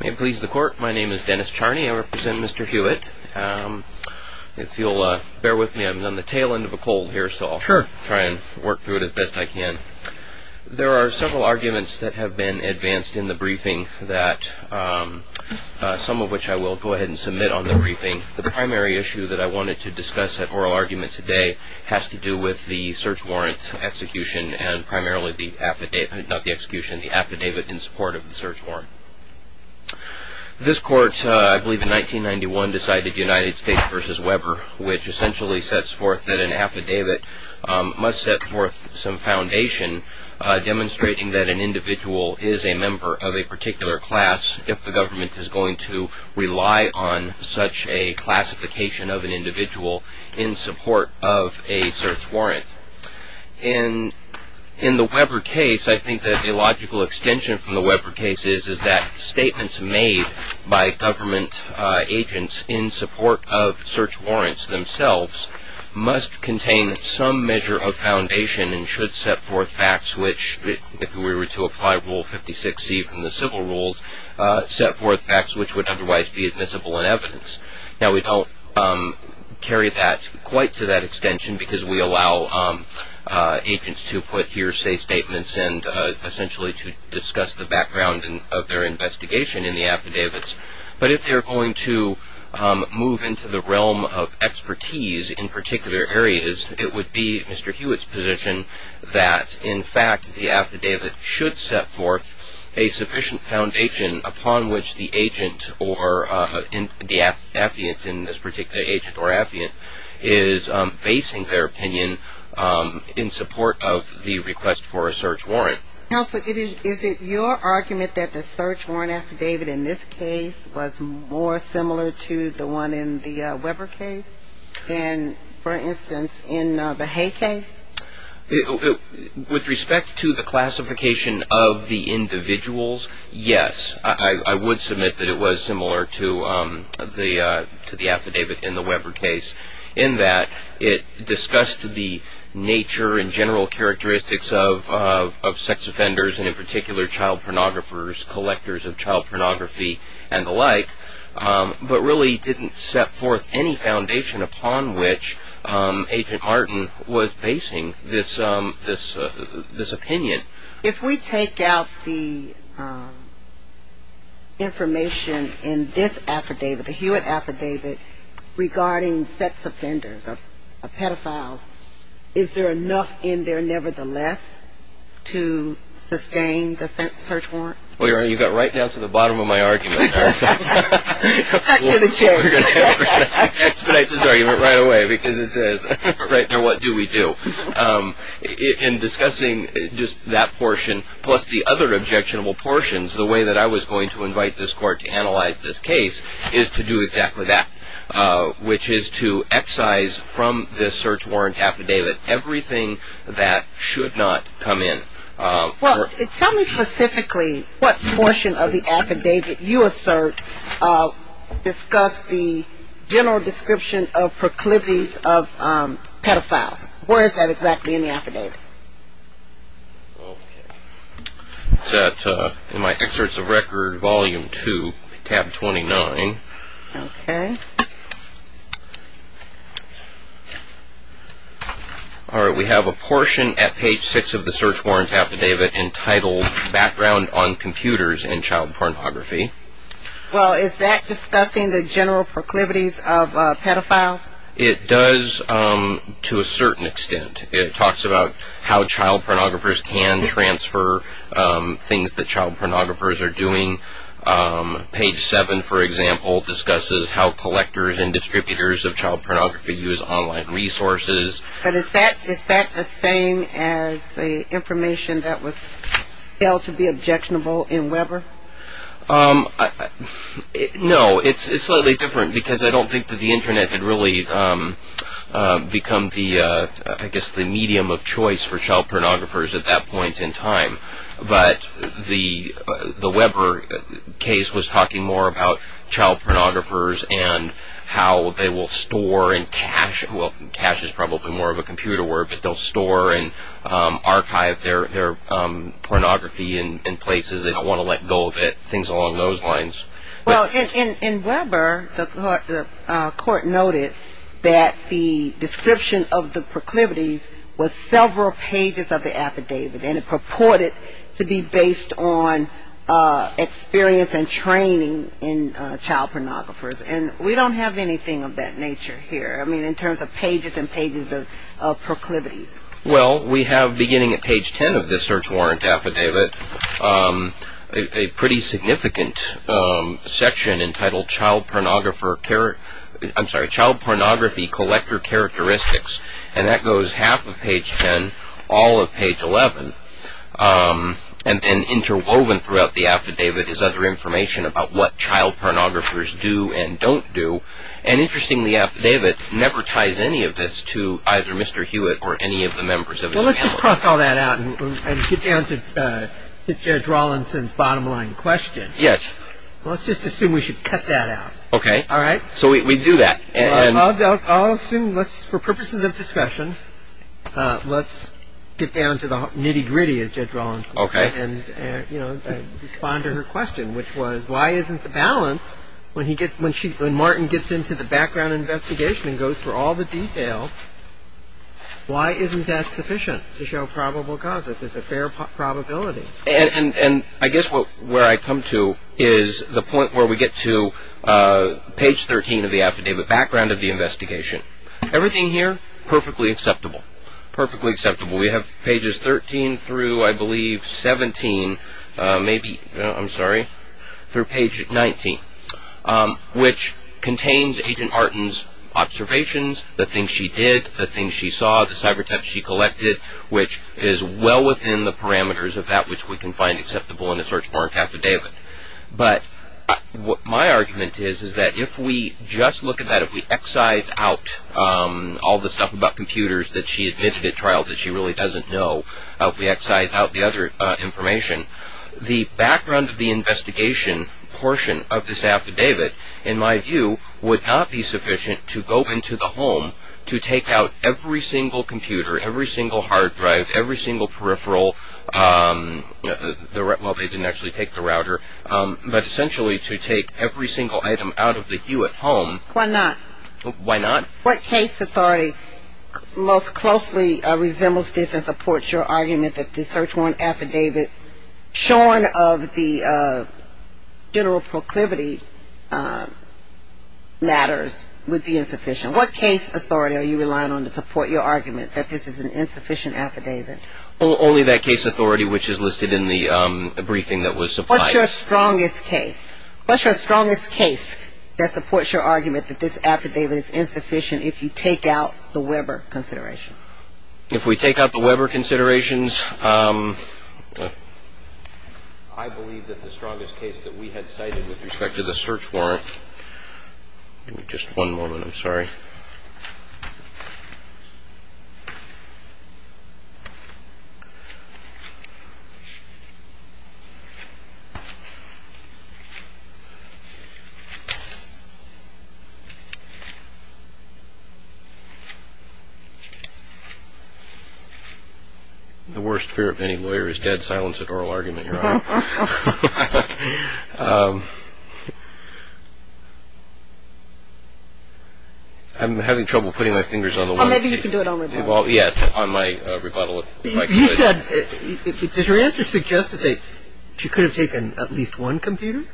May it please the court, my name is Dennis Charney. I represent Mr. Huitt. If you'll bear with me, I'm on the tail end of a cold here, so I'll try and work through it as best I can. There are several arguments that have been advanced in the briefing that, some of which I will go ahead and submit on the briefing. The primary issue that I wanted to discuss at oral argument today has to do with the search warrant execution and primarily the affidavit, not the execution, the affidavit in support of the search warrant. This court, I believe in 1991, decided United States v. Weber, which essentially sets forth that an affidavit must set forth some foundation demonstrating that an individual is a member of a particular class if the government is going to rely on such a classification of an individual in support of a search warrant. In the Weber case, I think that a logical extension from the Weber case is that statements made by government agents in support of search warrants themselves must contain some measure of foundation and should set forth facts which, if we were to apply Rule 56C from the civil rules, set forth facts which would otherwise be admissible in evidence. Now, we don't carry that quite to that extension because we allow agents to put hearsay statements and essentially to discuss the background of their investigation in the affidavits. But if they're going to move into the realm of expertise in particular areas, it would be Mr. Hewitt's position that, in fact, the affidavit should set forth a sufficient foundation upon which the agent or the affiant in this particular agent or affiant is basing their opinion in support of the request for a search warrant. Counsel, is it your argument that the search warrant affidavit in this case was more similar to the one in the Weber case than, for instance, in the Hay case? With respect to the classification of the individuals, yes. I would submit that it was similar to the affidavit in the Weber case in that it discussed the nature and general characteristics of sex offenders and, in particular, child pornographers, collectors of child pornography and the like, but really didn't set forth any foundation upon which Agent Martin was basing this opinion. If we take out the information in this affidavit, the Hewitt affidavit, regarding sex offenders or pedophiles, is there enough in there nevertheless to sustain the search warrant? Well, Your Honor, you got right down to the bottom of my argument. Cut to the chase. I expedite this argument right away because it says, right now, what do we do? In discussing just that portion plus the other objectionable portions, the way that I was going to invite this Court to analyze this case is to do exactly that, which is to excise from this search warrant affidavit everything that should not come in. Well, tell me specifically what portion of the affidavit you assert discussed the general description of proclivities of pedophiles. Where is that exactly in the affidavit? It's in my Excerpts of Record, Volume 2, Tab 29. Okay. All right. We have a portion at page 6 of the search warrant affidavit entitled, Background on Computers in Child Pornography. Well, is that discussing the general proclivities of pedophiles? It does to a certain extent. It talks about how child pornographers can transfer things that child pornographers are doing. Page 7, for example, discusses how collectors and distributors of child pornography use online resources. But is that the same as the information that was held to be objectionable in Weber? No. It's slightly different because I don't think that the Internet had really become the, I guess, the medium of choice for child pornographers at that point in time. But the Weber case was talking more about child pornographers and how they will store and cache, well, cache is probably more of a computer word, but they'll store and archive their pornography in places. They don't want to let go of it, things along those lines. Well, in Weber, the court noted that the description of the proclivities was several pages of the affidavit. And it purported to be based on experience and training in child pornographers. And we don't have anything of that nature here, I mean, in terms of pages and pages of proclivities. Well, we have, beginning at page 10 of the search warrant affidavit, a pretty significant section entitled Child Pornography Collector Characteristics. And that goes half of page 10, all of page 11. And interwoven throughout the affidavit is other information about what child pornographers do and don't do. And interestingly, the affidavit never ties any of this to either Mr. Hewitt or any of the members of his family. Well, let's just cross all that out and get down to Judge Rawlinson's bottom line question. Yes. Let's just assume we should cut that out. Okay. All right? So we do that. I'll assume, for purposes of discussion, let's get down to the nitty-gritty, as Judge Rawlinson said. Okay. And respond to her question, which was, why isn't the balance, when Martin gets into the background investigation and goes through all the detail, why isn't that sufficient to show probable cause if there's a fair probability? And I guess where I come to is the point where we get to page 13 of the affidavit, background of the investigation. Everything here, perfectly acceptable. Perfectly acceptable. We have pages 13 through, I believe, 17, maybe, I'm sorry, through page 19, which contains Agent Martin's observations, the things she did, the things she saw, the cyber thefts she collected, which is well within the parameters of that which we can find acceptable in a search warrant affidavit. But what my argument is is that if we just look at that, if we excise out all the stuff about computers that she admitted at trial that she really doesn't know, if we excise out the other information, the background of the investigation portion of this affidavit, in my view, would not be sufficient to go into the home to take out every single computer, every single hard drive, every single peripheral, well, they didn't actually take the router, but essentially to take every single item out of the Hewitt home. Why not? Why not? What case authority most closely resembles this and supports your argument that the search warrant affidavit, shorn of the general proclivity matters, would be insufficient? What case authority are you relying on to support your argument that this is an insufficient affidavit? Only that case authority which is listed in the briefing that was supplied. What's your strongest case? What's your strongest case that supports your argument that this affidavit is insufficient if you take out the Weber considerations? If we take out the Weber considerations, I believe that the strongest case that we had cited with respect to the search warrant, just one moment, I'm sorry. The worst fear of any lawyer is dead silence at oral argument, Your Honor. I'm having trouble putting my fingers on the one. Maybe you can do it on my desk. Well, yes, on my rebuttal. You said, does your answer suggest that you could have taken at least one computer?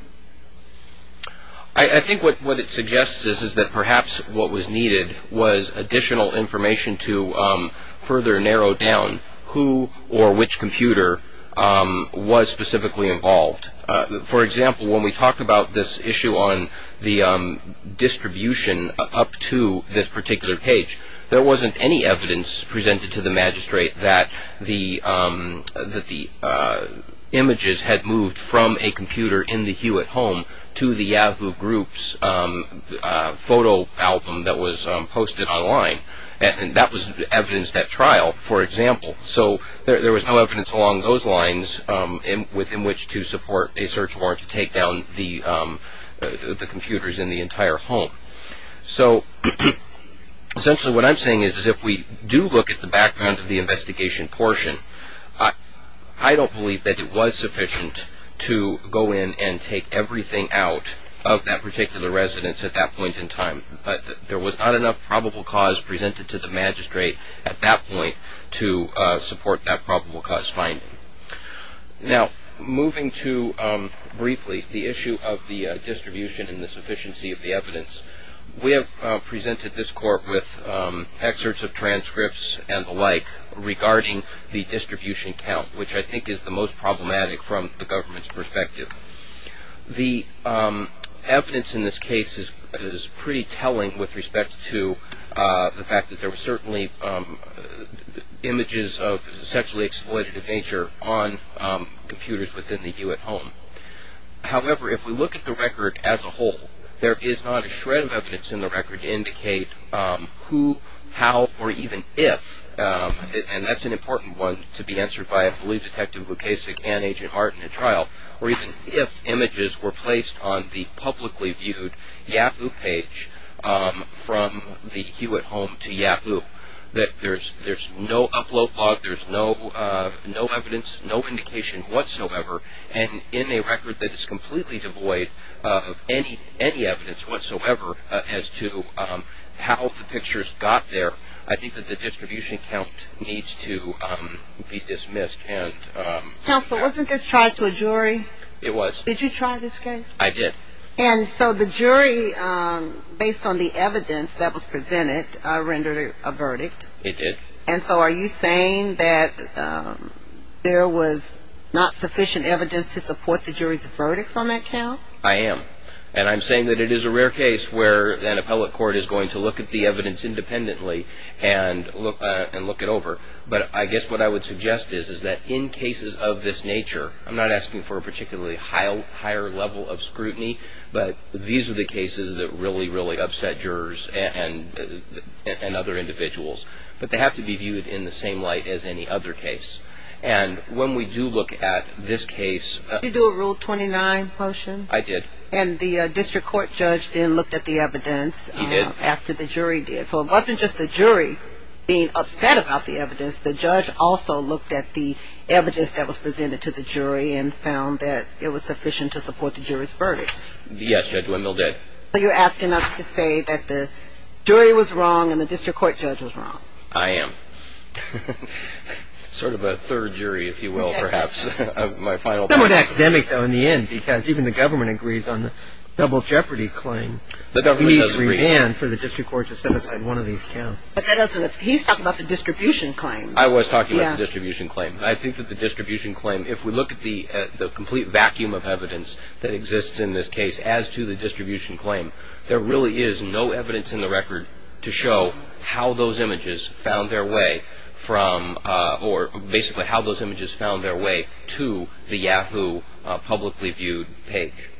I think what it suggests is that perhaps what was needed was additional information to further narrow down who or which computer was specifically involved. For example, when we talk about this issue on the distribution up to this particular page, there wasn't any evidence presented to the magistrate that the images had moved from a computer in the Hewitt home to the Yahoo Group's photo album that was posted online. That was evidenced at trial, for example. So there was no evidence along those lines within which to support a search warrant to take down the computers in the entire home. So essentially what I'm saying is if we do look at the background of the investigation portion, I don't believe that it was sufficient to go in and take everything out of that particular residence at that point in time. But there was not enough probable cause presented to the magistrate at that point to support that probable cause finding. Now, moving to briefly the issue of the distribution and the sufficiency of the evidence, we have presented this court with excerpts of transcripts and the like regarding the distribution count, which I think is the most problematic from the government's perspective. The evidence in this case is pretty telling with respect to the fact that there were certainly images of sexually exploitative nature on computers within the Hewitt home. However, if we look at the record as a whole, there is not a shred of evidence in the record to indicate who, how, or even if, and that's an important one to be answered by, I believe, Detective Bukasic and Agent Martin at trial, or even if images were placed on the publicly viewed Yahoo page from the Hewitt home to Yahoo, that there's no upload log, there's no evidence, no indication whatsoever, and in a record that is completely devoid of any evidence whatsoever as to how the pictures got there, I think that the distribution count needs to be dismissed. Counsel, wasn't this tried to a jury? It was. Did you try this case? I did. And so the jury, based on the evidence that was presented, rendered a verdict. It did. And so are you saying that there was not sufficient evidence to support the jury's verdict on that count? I am. And I'm saying that it is a rare case where an appellate court is going to look at the evidence independently and look it over. But I guess what I would suggest is that in cases of this nature, I'm not asking for a particularly higher level of scrutiny, but these are the cases that really, really upset jurors and other individuals. But they have to be viewed in the same light as any other case. And when we do look at this case. Did you do a Rule 29 motion? I did. And the district court judge then looked at the evidence after the jury did. He did. So it wasn't just the jury being upset about the evidence. The judge also looked at the evidence that was presented to the jury and found that it was sufficient to support the jury's verdict. Yes, Judge Wendell did. Are you asking us to say that the jury was wrong and the district court judge was wrong? I am. Sort of a third jury, if you will, perhaps, of my final point. Somewhat academic, though, in the end, because even the government agrees on the double jeopardy claim. We demand for the district court to set aside one of these counts. He's talking about the distribution claim. I was talking about the distribution claim. I think that the distribution claim, if we look at the complete vacuum of evidence that exists in this case as to the distribution claim, there really is no evidence in the record to show how those images found their way from or basically how those images found their way to the Yahoo publicly viewed page.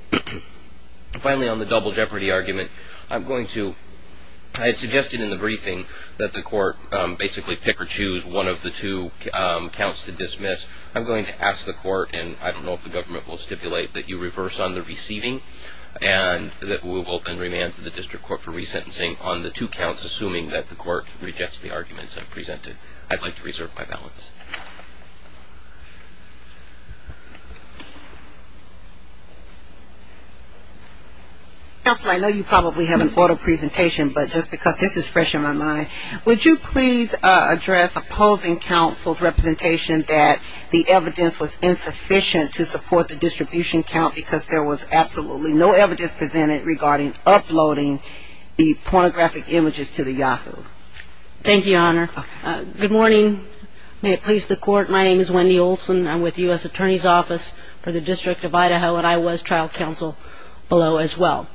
Finally, on the double jeopardy argument, I'm going to – I suggested in the briefing that the court basically pick or choose one of the two counts to dismiss. I'm going to ask the court, and I don't know if the government will stipulate that you reverse on the receiving and that we will then remand to the district court for resentencing on the two counts, assuming that the court rejects the arguments I've presented. I'd like to reserve my balance. Counsel, I know you probably have an auto presentation, but just because this is fresh in my mind, would you please address opposing counsel's representation that the evidence was insufficient to support the distribution count because there was absolutely no evidence presented regarding uploading the pornographic images to the Yahoo. Thank you, Your Honor. Good morning. May it please the court, my name is Wendy Olson. I'm with the U.S. Attorney's Office for the District of Idaho, and I was trial counsel below as well.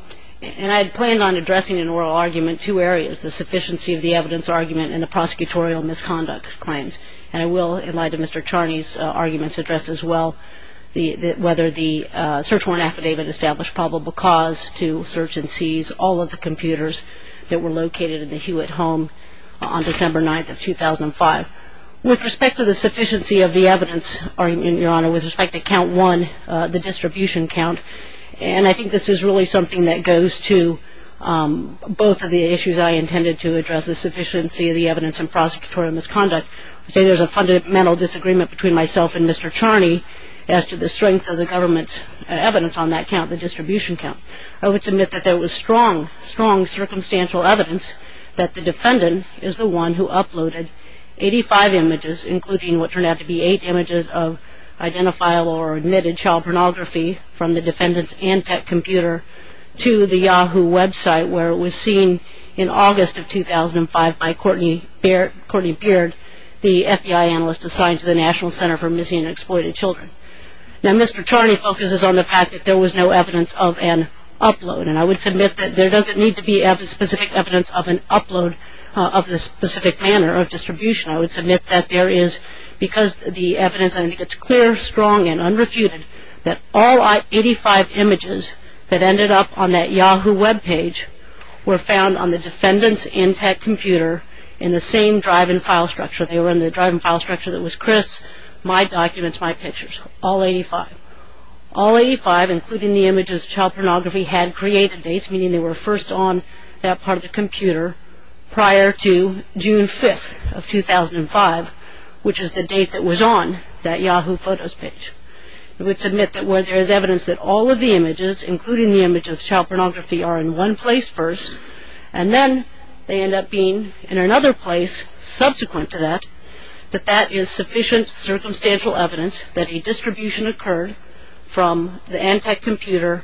And I had planned on addressing in oral argument two areas, the sufficiency of the evidence argument and the prosecutorial misconduct claims. And I will, in light of Mr. Charney's arguments, address as well whether the search warrant affidavit established probable cause to search and seize all of the computers that were located in the Hewitt home on December 9th of 2005. With respect to the sufficiency of the evidence, Your Honor, with respect to count one, the distribution count, and I think this is really something that goes to both of the issues I intended to address, the sufficiency of the evidence and prosecutorial misconduct. I'd say there's a fundamental disagreement between myself and Mr. Charney as to the strength of the government's evidence on that count, the distribution count. I would submit that there was strong, strong circumstantial evidence that the defendant is the one who uploaded 85 images, including what turned out to be 8 images of identifiable or admitted child pornography from the defendant's Antec computer to the Yahoo website where it was seen in August of 2005 by Courtney Beard, the FBI analyst assigned to the National Center for Missing and Exploited Children. Now, Mr. Charney focuses on the fact that there was no evidence of an upload, and I would submit that there doesn't need to be specific evidence of an upload of the specific manner of distribution. I would submit that there is, because the evidence, I think it's clear, strong, and unrefuted, that all 85 images that ended up on that Yahoo webpage were found on the defendant's Antec computer in the same drive-and-file structure. They were in the drive-and-file structure that was Chris, my documents, my pictures, all 85. All 85, including the images of child pornography, had created dates, meaning they were first on that part of the computer prior to June 5th of 2005, which is the date that was on that Yahoo photos page. I would submit that where there is evidence that all of the images, including the images of child pornography, are in one place first, and then they end up being in another place subsequent to that, that that is sufficient circumstantial evidence that a distribution occurred from the Antec computer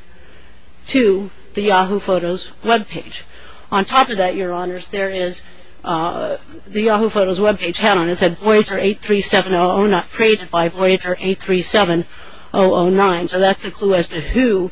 to the Yahoo photos webpage. On top of that, Your Honors, there is, the Yahoo photos webpage had on it said Voyager 83700, not created by Voyager 837009, so that's the clue as to who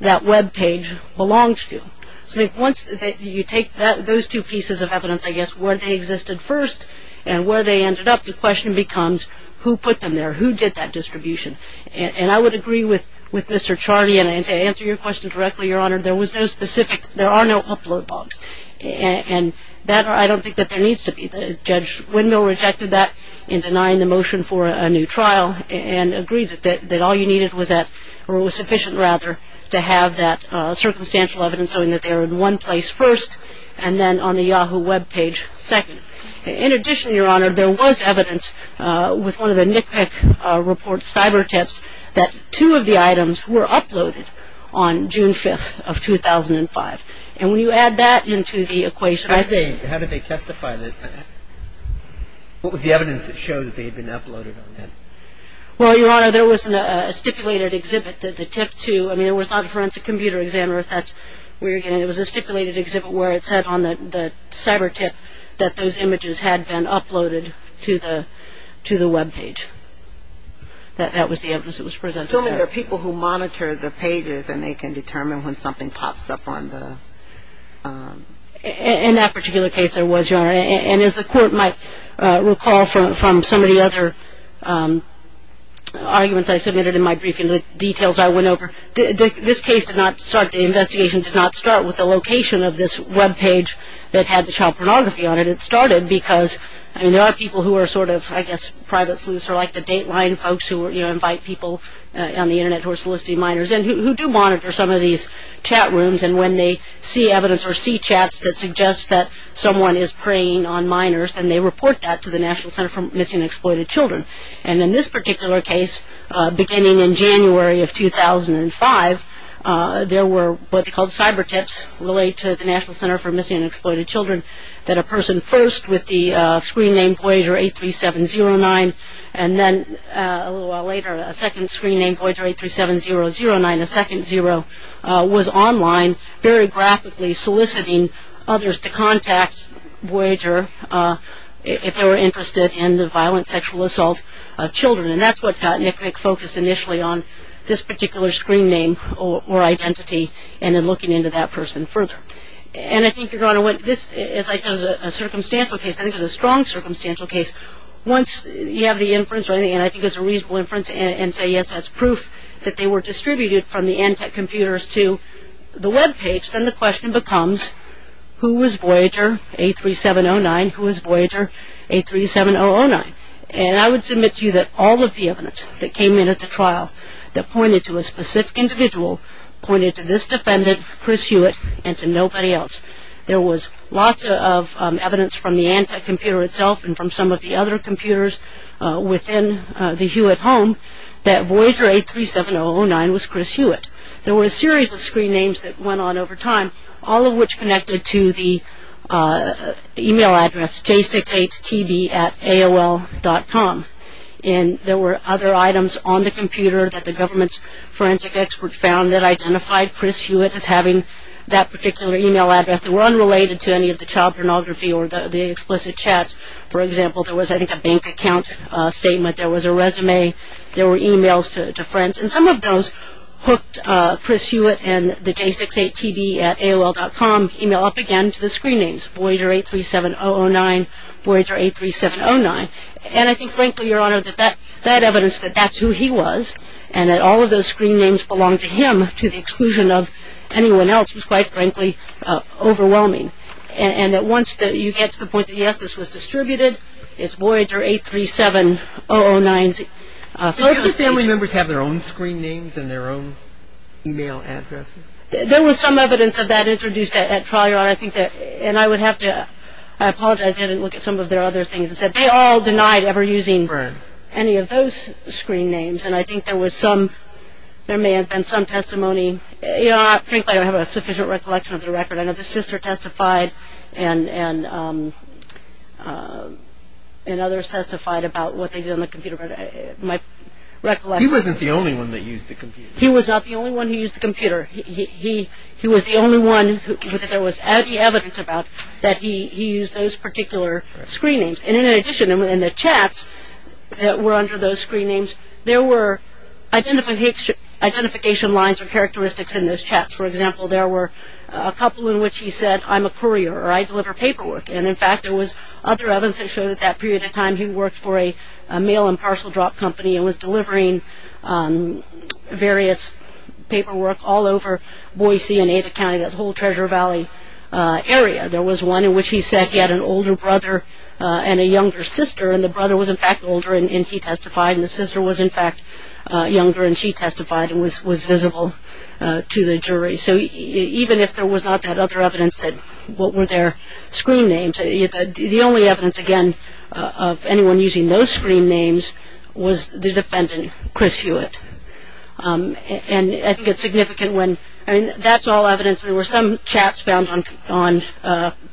that webpage belonged to. So once you take those two pieces of evidence, I guess, where they existed first and where they ended up, the question becomes who put them there? Who did that distribution? And I would agree with Mr. Charney, and to answer your question directly, Your Honor, there was no specific, there are no upload logs, and that I don't think that there needs to be. Judge Windmill rejected that in denying the motion for a new trial, and agreed that all you needed was that, or it was sufficient, rather, to have that circumstantial evidence showing that they were in one place first, and then on the Yahoo webpage second. In addition, Your Honor, there was evidence with one of the NCPIC report cyber tips that two of the items were uploaded on June 5th of 2005. And when you add that into the equation, I think. How did they testify? What was the evidence that showed that they had been uploaded on that? Well, Your Honor, there was a stipulated exhibit that the tip to, I mean it was not a forensic computer exam, or if that's where you're getting it. It was a stipulated exhibit where it said on the cyber tip that those images had been uploaded to the webpage. That was the evidence that was presented there. Assuming they're people who monitor the pages, and they can determine when something pops up on the... In that particular case, there was, Your Honor, and as the court might recall from some of the other arguments I submitted in my briefing, the details I went over, this case did not start, the investigation did not start with the location of this webpage that had the child pornography on it. It started because there are people who are sort of, I guess, private sleuths, or like the Dateline folks who invite people on the internet who are soliciting minors, and who do monitor some of these chat rooms, and when they see evidence or see chats that suggest that someone is preying on minors, then they report that to the National Center for Missing and Exploited Children. And in this particular case, beginning in January of 2005, there were what they called cyber tips related to the National Center for Missing and Exploited Children, that a person first with the screen name Voyager 83709, and then a little while later, a second screen named Voyager 837009, a second zero, was online, very graphically soliciting others to contact Voyager if they were interested in the violent sexual assault of children. And that's what got NCVIC focused initially on this particular screen name or identity, and then looking into that person further. And I think you're going to want, this, as I said, is a circumstantial case. I think it's a strong circumstantial case. Once you have the inference or anything, and I think it's a reasonable inference, and say, yes, that's proof that they were distributed from the ANTEC computers to the web page, then the question becomes, who was Voyager 83709? Who was Voyager 837009? And I would submit to you that all of the evidence that came in at the trial that pointed to a specific individual, pointed to this defendant, Chris Hewitt, and to nobody else. There was lots of evidence from the ANTEC computer itself and from some of the other computers within the Hewitt home that Voyager 83709 was Chris Hewitt. There were a series of screen names that went on over time, all of which connected to the e-mail address J6HTB at AOL.com. And there were other items on the computer that the government's forensic expert found that identified Chris Hewitt as having that particular e-mail address. They were unrelated to any of the child pornography or the explicit chats. For example, there was, I think, a bank account statement. There was a resume. There were e-mails to friends. And some of those hooked Chris Hewitt and the J6HTB at AOL.com e-mail up again to the screen names, Voyager 837009, Voyager 83709. And I think, frankly, Your Honor, that that evidence that that's who he was and that all of those screen names belonged to him to the exclusion of anyone else was, quite frankly, overwhelming. And that once you get to the point that, yes, this was distributed, it's Voyager 837009. Do those family members have their own screen names and their own e-mail addresses? There was some evidence of that introduced at trial, Your Honor. And I would have to apologize. I didn't look at some of their other things. They all denied ever using any of those screen names. And I think there may have been some testimony. Frankly, I don't have a sufficient recollection of the record. I know the sister testified and others testified about what they did on the computer. He wasn't the only one that used the computer. He was not the only one who used the computer. He was the only one that there was any evidence about that he used those particular screen names. And in addition, in the chats that were under those screen names, there were identification lines or characteristics in those chats. For example, there were a couple in which he said, I'm a courier, or I deliver paperwork. And, in fact, there was other evidence that showed at that period of time he worked for a mail and parcel drop company and was delivering various paperwork all over Boise and Ada County, that whole Treasure Valley area. There was one in which he said he had an older brother and a younger sister, and the brother was, in fact, older, and he testified, and the sister was, in fact, younger, and she testified and was visible to the jury. So even if there was not that other evidence that what were their screen names, the only evidence, again, of anyone using those screen names was the defendant, Chris Hewitt. And I think it's significant when, I mean, that's all evidence. There were some chats found on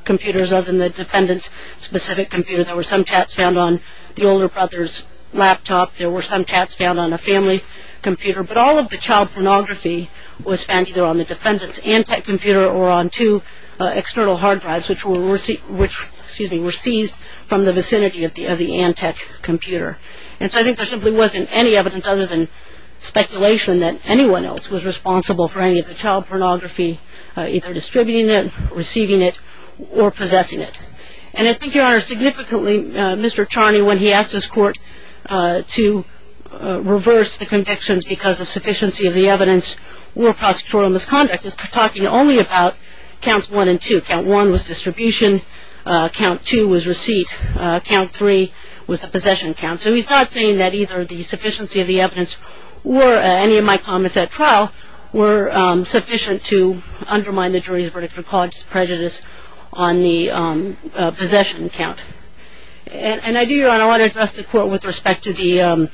computers other than the defendant's specific computer. There were some chats found on the older brother's laptop. There were some chats found on a family computer. But all of the child pornography was found either on the defendant's Antec computer or on two external hard drives, which were seized from the vicinity of the Antec computer. And so I think there simply wasn't any evidence other than speculation that anyone else was responsible for any of the child pornography, either distributing it, receiving it, or possessing it. And I think, Your Honor, significantly, Mr. Charney, when he asked his court to reverse the convictions because of sufficiency of the evidence or prosecutorial misconduct, is talking only about counts one and two. Count one was distribution. Count two was receipt. Count three was the possession count. So he's not saying that either the sufficiency of the evidence or any of my comments at trial were sufficient to undermine the jury's verdict or cause prejudice on the possession count. And I do, Your Honor, want to address the court with respect to the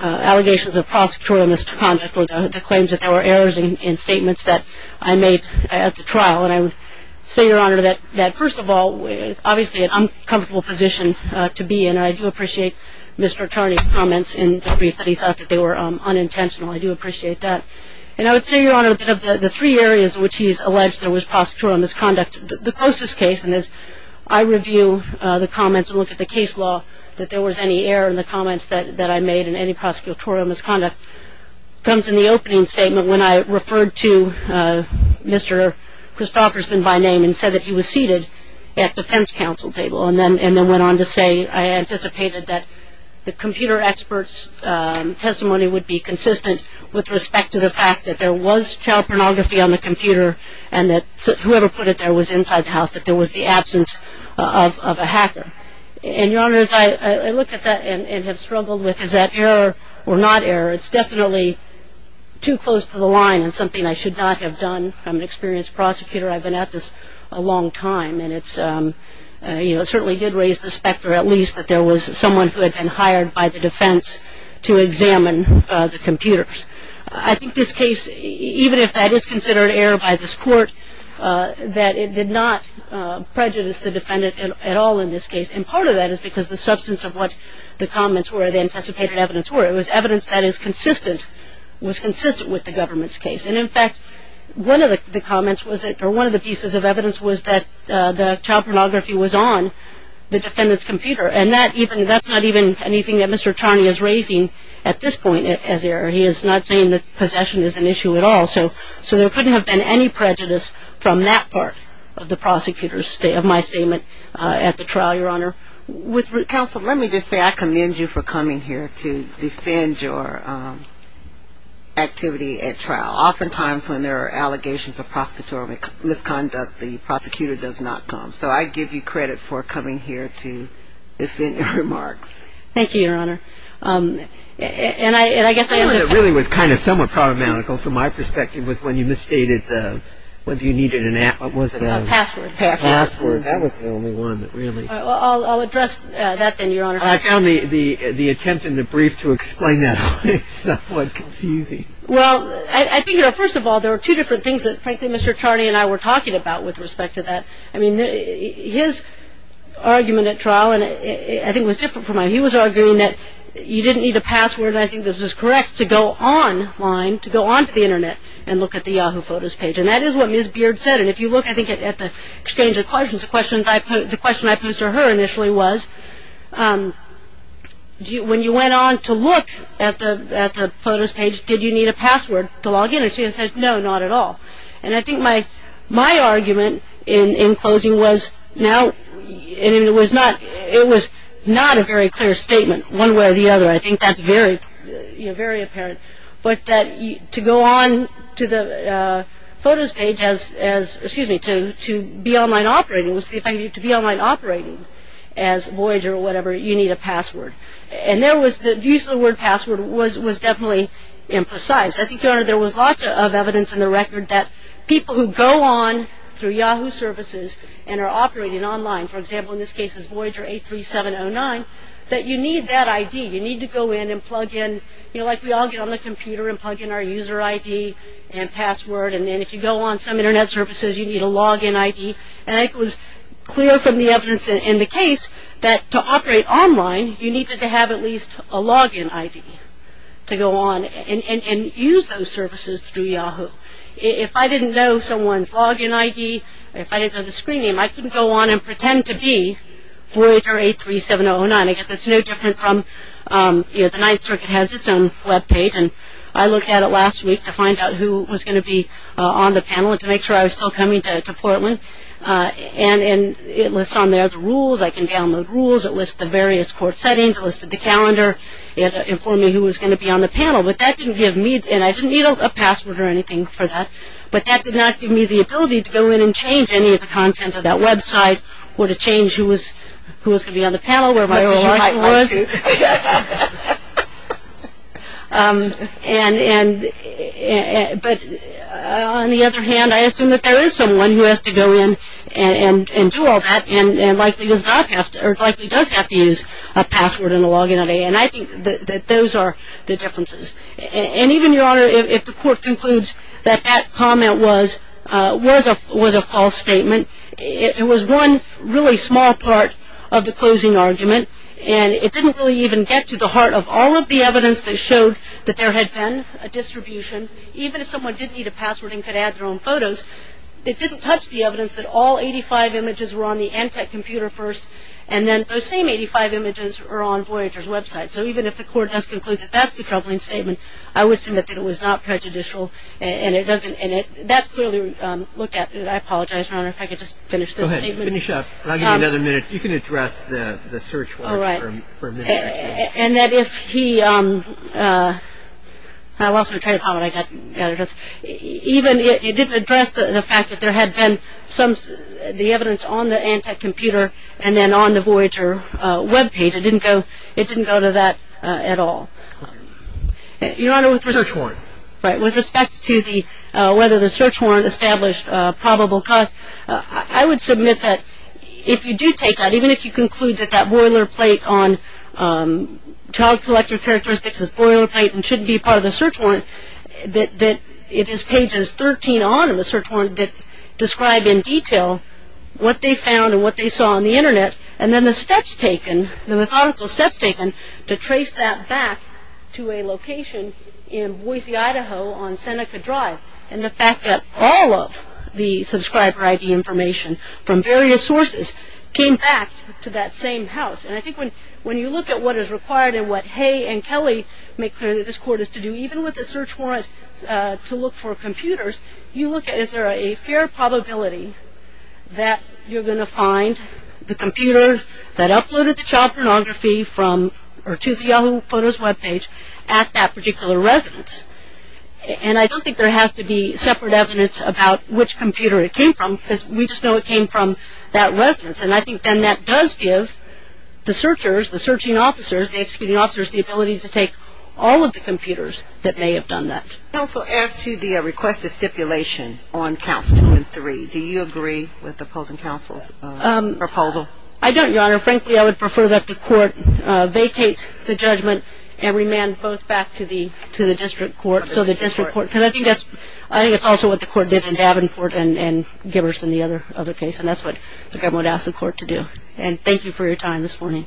allegations of prosecutorial misconduct or the claims that there were errors in statements that I made at the trial. And I would say, Your Honor, that, first of all, it's obviously an uncomfortable position to be in. I do appreciate Mr. Charney's comments in the brief that he thought that they were unintentional. I do appreciate that. And I would say, Your Honor, that of the three areas in which he's alleged there was prosecutorial misconduct, the closest case, and as I review the comments and look at the case law, that there was any error in the comments that I made in any prosecutorial misconduct, comes in the opening statement when I referred to Mr. Christofferson by name and said that he was seated at defense counsel table and then went on to say, I anticipated that the computer expert's testimony would be consistent with respect to the fact that there was child pornography on the computer and that whoever put it there was inside the house, that there was the absence of a hacker. And, Your Honor, as I look at that and have struggled with, is that error or not error? It's definitely too close to the line and something I should not have done. I'm an experienced prosecutor. I've been at this a long time. And it certainly did raise the specter, at least, that there was someone who had been hired by the defense to examine the computers. I think this case, even if that is considered error by this court, that it did not prejudice the defendant at all in this case. And part of that is because the substance of what the comments were, the anticipated evidence were. It was evidence that is consistent, was consistent with the government's case. And, in fact, one of the pieces of evidence was that the child pornography was on the defendant's computer. And that's not even anything that Mr. Charney is raising at this point as error. He is not saying that possession is an issue at all. So there couldn't have been any prejudice from that part of my statement at the trial, Your Honor. Counsel, let me just say I commend you for coming here to defend your activity at trial. Oftentimes, when there are allegations of prosecutorial misconduct, the prosecutor does not come. So I give you credit for coming here to defend your remarks. Thank you, Your Honor. And I guess I am going to... The thing that really was kind of somewhat problematical, from my perspective, was when you misstated whether you needed an app. What was it? Password. Password. Password. That was the only one that really... I'll address that then, Your Honor. I found the attempt in the brief to explain that somewhat confusing. Well, I think, you know, first of all, there are two different things that, frankly, Mr. Charney and I were talking about with respect to that. I mean, his argument at trial, I think, was different from mine. He was arguing that you didn't need a password, and I think this is correct, to go online, to go onto the Internet and look at the Yahoo Photos page. And that is what Ms. Beard said. And if you look, I think, at the exchange of questions, the question I posed to her initially was, when you went on to look at the Photos page, did you need a password to log in? And she said, no, not at all. And I think my argument in closing was, no, it was not a very clear statement, one way or the other. I think that's very apparent. But that to go on to the Photos page as, excuse me, to be online operating, to be online operating as Voyager or whatever, you need a password. And there was the use of the word password was definitely imprecise. I think, Your Honor, there was lots of evidence in the record that people who go on through Yahoo services and are operating online, for example, in this case it's Voyager 83709, that you need that ID. You need to go in and plug in, you know, like we all get on the computer and plug in our user ID and password. And then if you go on some Internet services, you need a login ID. And I think it was clear from the evidence in the case that to operate online, you needed to have at least a login ID to go on and use those services through Yahoo. If I didn't know someone's login ID, if I didn't know the screen name, I couldn't go on and pretend to be Voyager 83709. I guess it's no different from, you know, the Ninth Circuit has its own web page. And I looked at it last week to find out who was going to be on the panel and to make sure I was still coming to Portland. And it lists on there the rules. I can download rules. It lists the various court settings. It listed the calendar. It informed me who was going to be on the panel. But that didn't give me, and I didn't need a password or anything for that, but that did not give me the ability to go in and change any of the content of that website or to change who was going to be on the panel, where my position was. But on the other hand, I assume that there is someone who has to go in and do all that and likely does have to use a password and a login ID. And I think that those are the differences. And even, Your Honor, if the court concludes that that comment was a false statement, it was one really small part of the closing argument, and it didn't really even get to the heart of all of the evidence that showed that there had been a distribution. Even if someone did need a password and could add their own photos, it didn't touch the evidence that all 85 images were on the Antec computer first, and then those same 85 images are on Voyager's website. So even if the court does conclude that that's the troubling statement, I would submit that it was not prejudicial. And that's clearly looked at. I apologize, Your Honor, if I could just finish this statement. Go ahead, finish up. I'll give you another minute. You can address the search warrant for a minute, actually. And that if he – I lost my train of thought, but I got it. Even if it didn't address the fact that there had been the evidence on the Antec computer and then on the Voyager webpage, it didn't go to that at all. Your Honor, with respect to whether the search warrant established probable cause, I would submit that if you do take that, even if you conclude that that boilerplate on child collector characteristics is boilerplate and shouldn't be part of the search warrant, that it is pages 13 on in the search warrant that describe in detail what they found and what they saw on the Internet, and then the steps taken, the methodical steps taken to trace that back to a location in Boise, Idaho, on Seneca Drive and the fact that all of the subscriber ID information from various sources came back to that same house. And I think when you look at what is required and what Hay and Kelly make clear that this court is to do, even with the search warrant to look for computers, you look at is there a fair probability that you're going to find the computer that uploaded the child pornography from or to the Yahoo Photos webpage at that particular residence. And I don't think there has to be separate evidence about which computer it came from because we just know it came from that residence. And I think then that does give the searchers, the searching officers, the executing officers, the ability to take all of the computers that may have done that. Counsel asked you to request a stipulation on Council 3. Do you agree with the opposing counsel's proposal? I don't, Your Honor. Frankly, I would prefer that the court vacate the judgment and remand both back to the district court. Because I think that's also what the court did in Davenport and Gibbers and the other case, and that's what the government asked the court to do. And thank you for your time this morning.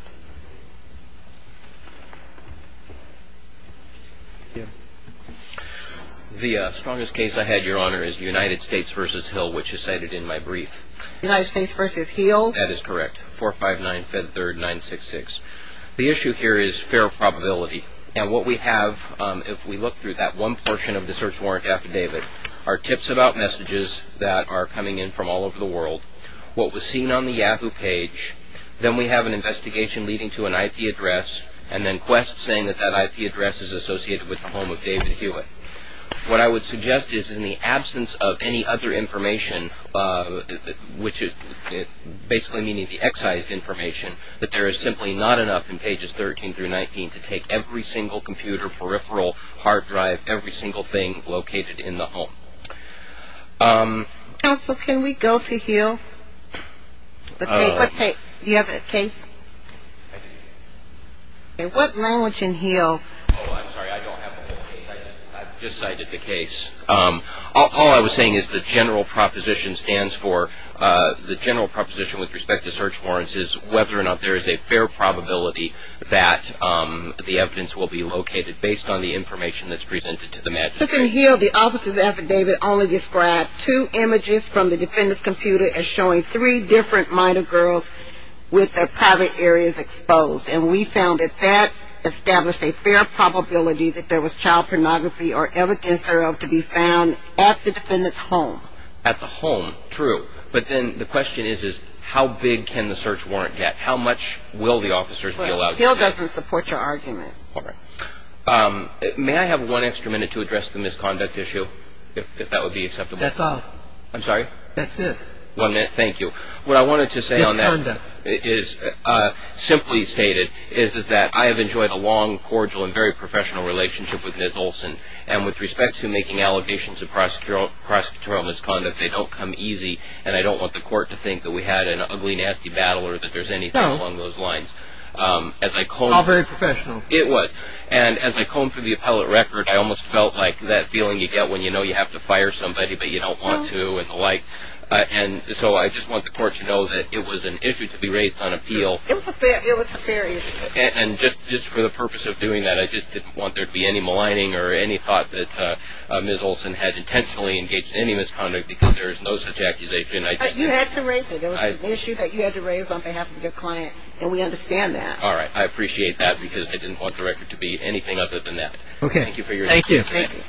The strongest case I had, Your Honor, is United States v. Hill, which is cited in my brief. United States v. Hill. That is correct. 459-Fed3rd-966. The issue here is fair probability. And what we have, if we look through that one portion of the search warrant affidavit, are tips about messages that are coming in from all over the world. What was seen on the Yahoo page. Then we have an investigation leading to an IP address. And then quest saying that that IP address is associated with the home of David Hewitt. What I would suggest is in the absence of any other information, which is basically meaning the excised information, that there is simply not enough in pages 13 through 19 to take every single computer, peripheral, hard drive, every single thing located in the home. Counsel, can we go to Hill? Do you have a case? What language in Hill? Oh, I'm sorry. I don't have a case. I just cited the case. All I was saying is the general proposition stands for the general proposition with respect to search warrants is whether or not there is a fair probability that the evidence will be located based on the information that's presented to the magistrate. In Hill, the officer's affidavit only described two images from the defendant's computer as showing three different minor girls with their private areas exposed. And we found that that established a fair probability that there was child pornography or evidence thereof to be found at the defendant's home. At the home. True. But then the question is how big can the search warrant get? How much will the officers be allowed to get? Well, Hill doesn't support your argument. All right. May I have one extra minute to address the misconduct issue, if that would be acceptable? That's all. I'm sorry? That's it. One minute. Thank you. What I wanted to say on that is simply stated is that I have enjoyed a long, cordial, and very professional relationship with Ms. Olson. And with respect to making allegations of prosecutorial misconduct, they don't come easy. And I don't want the court to think that we had an ugly, nasty battle or that there's anything along those lines. No. All very professional. It was. And as I combed through the appellate record, I almost felt like that feeling you get when you know you have to fire somebody but you don't want to and the like. And so I just want the court to know that it was an issue to be raised on appeal. It was a fair issue. And just for the purpose of doing that, I just didn't want there to be any maligning or any thought that Ms. Olson had intentionally engaged in any misconduct because there is no such accusation. You had to raise it. It was an issue that you had to raise on behalf of your client, and we understand that. All right. I appreciate that because I didn't want the record to be anything other than that. Okay. Thank you for your time. Thank you.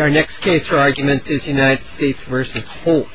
Our next case for argument is United States v. Holt.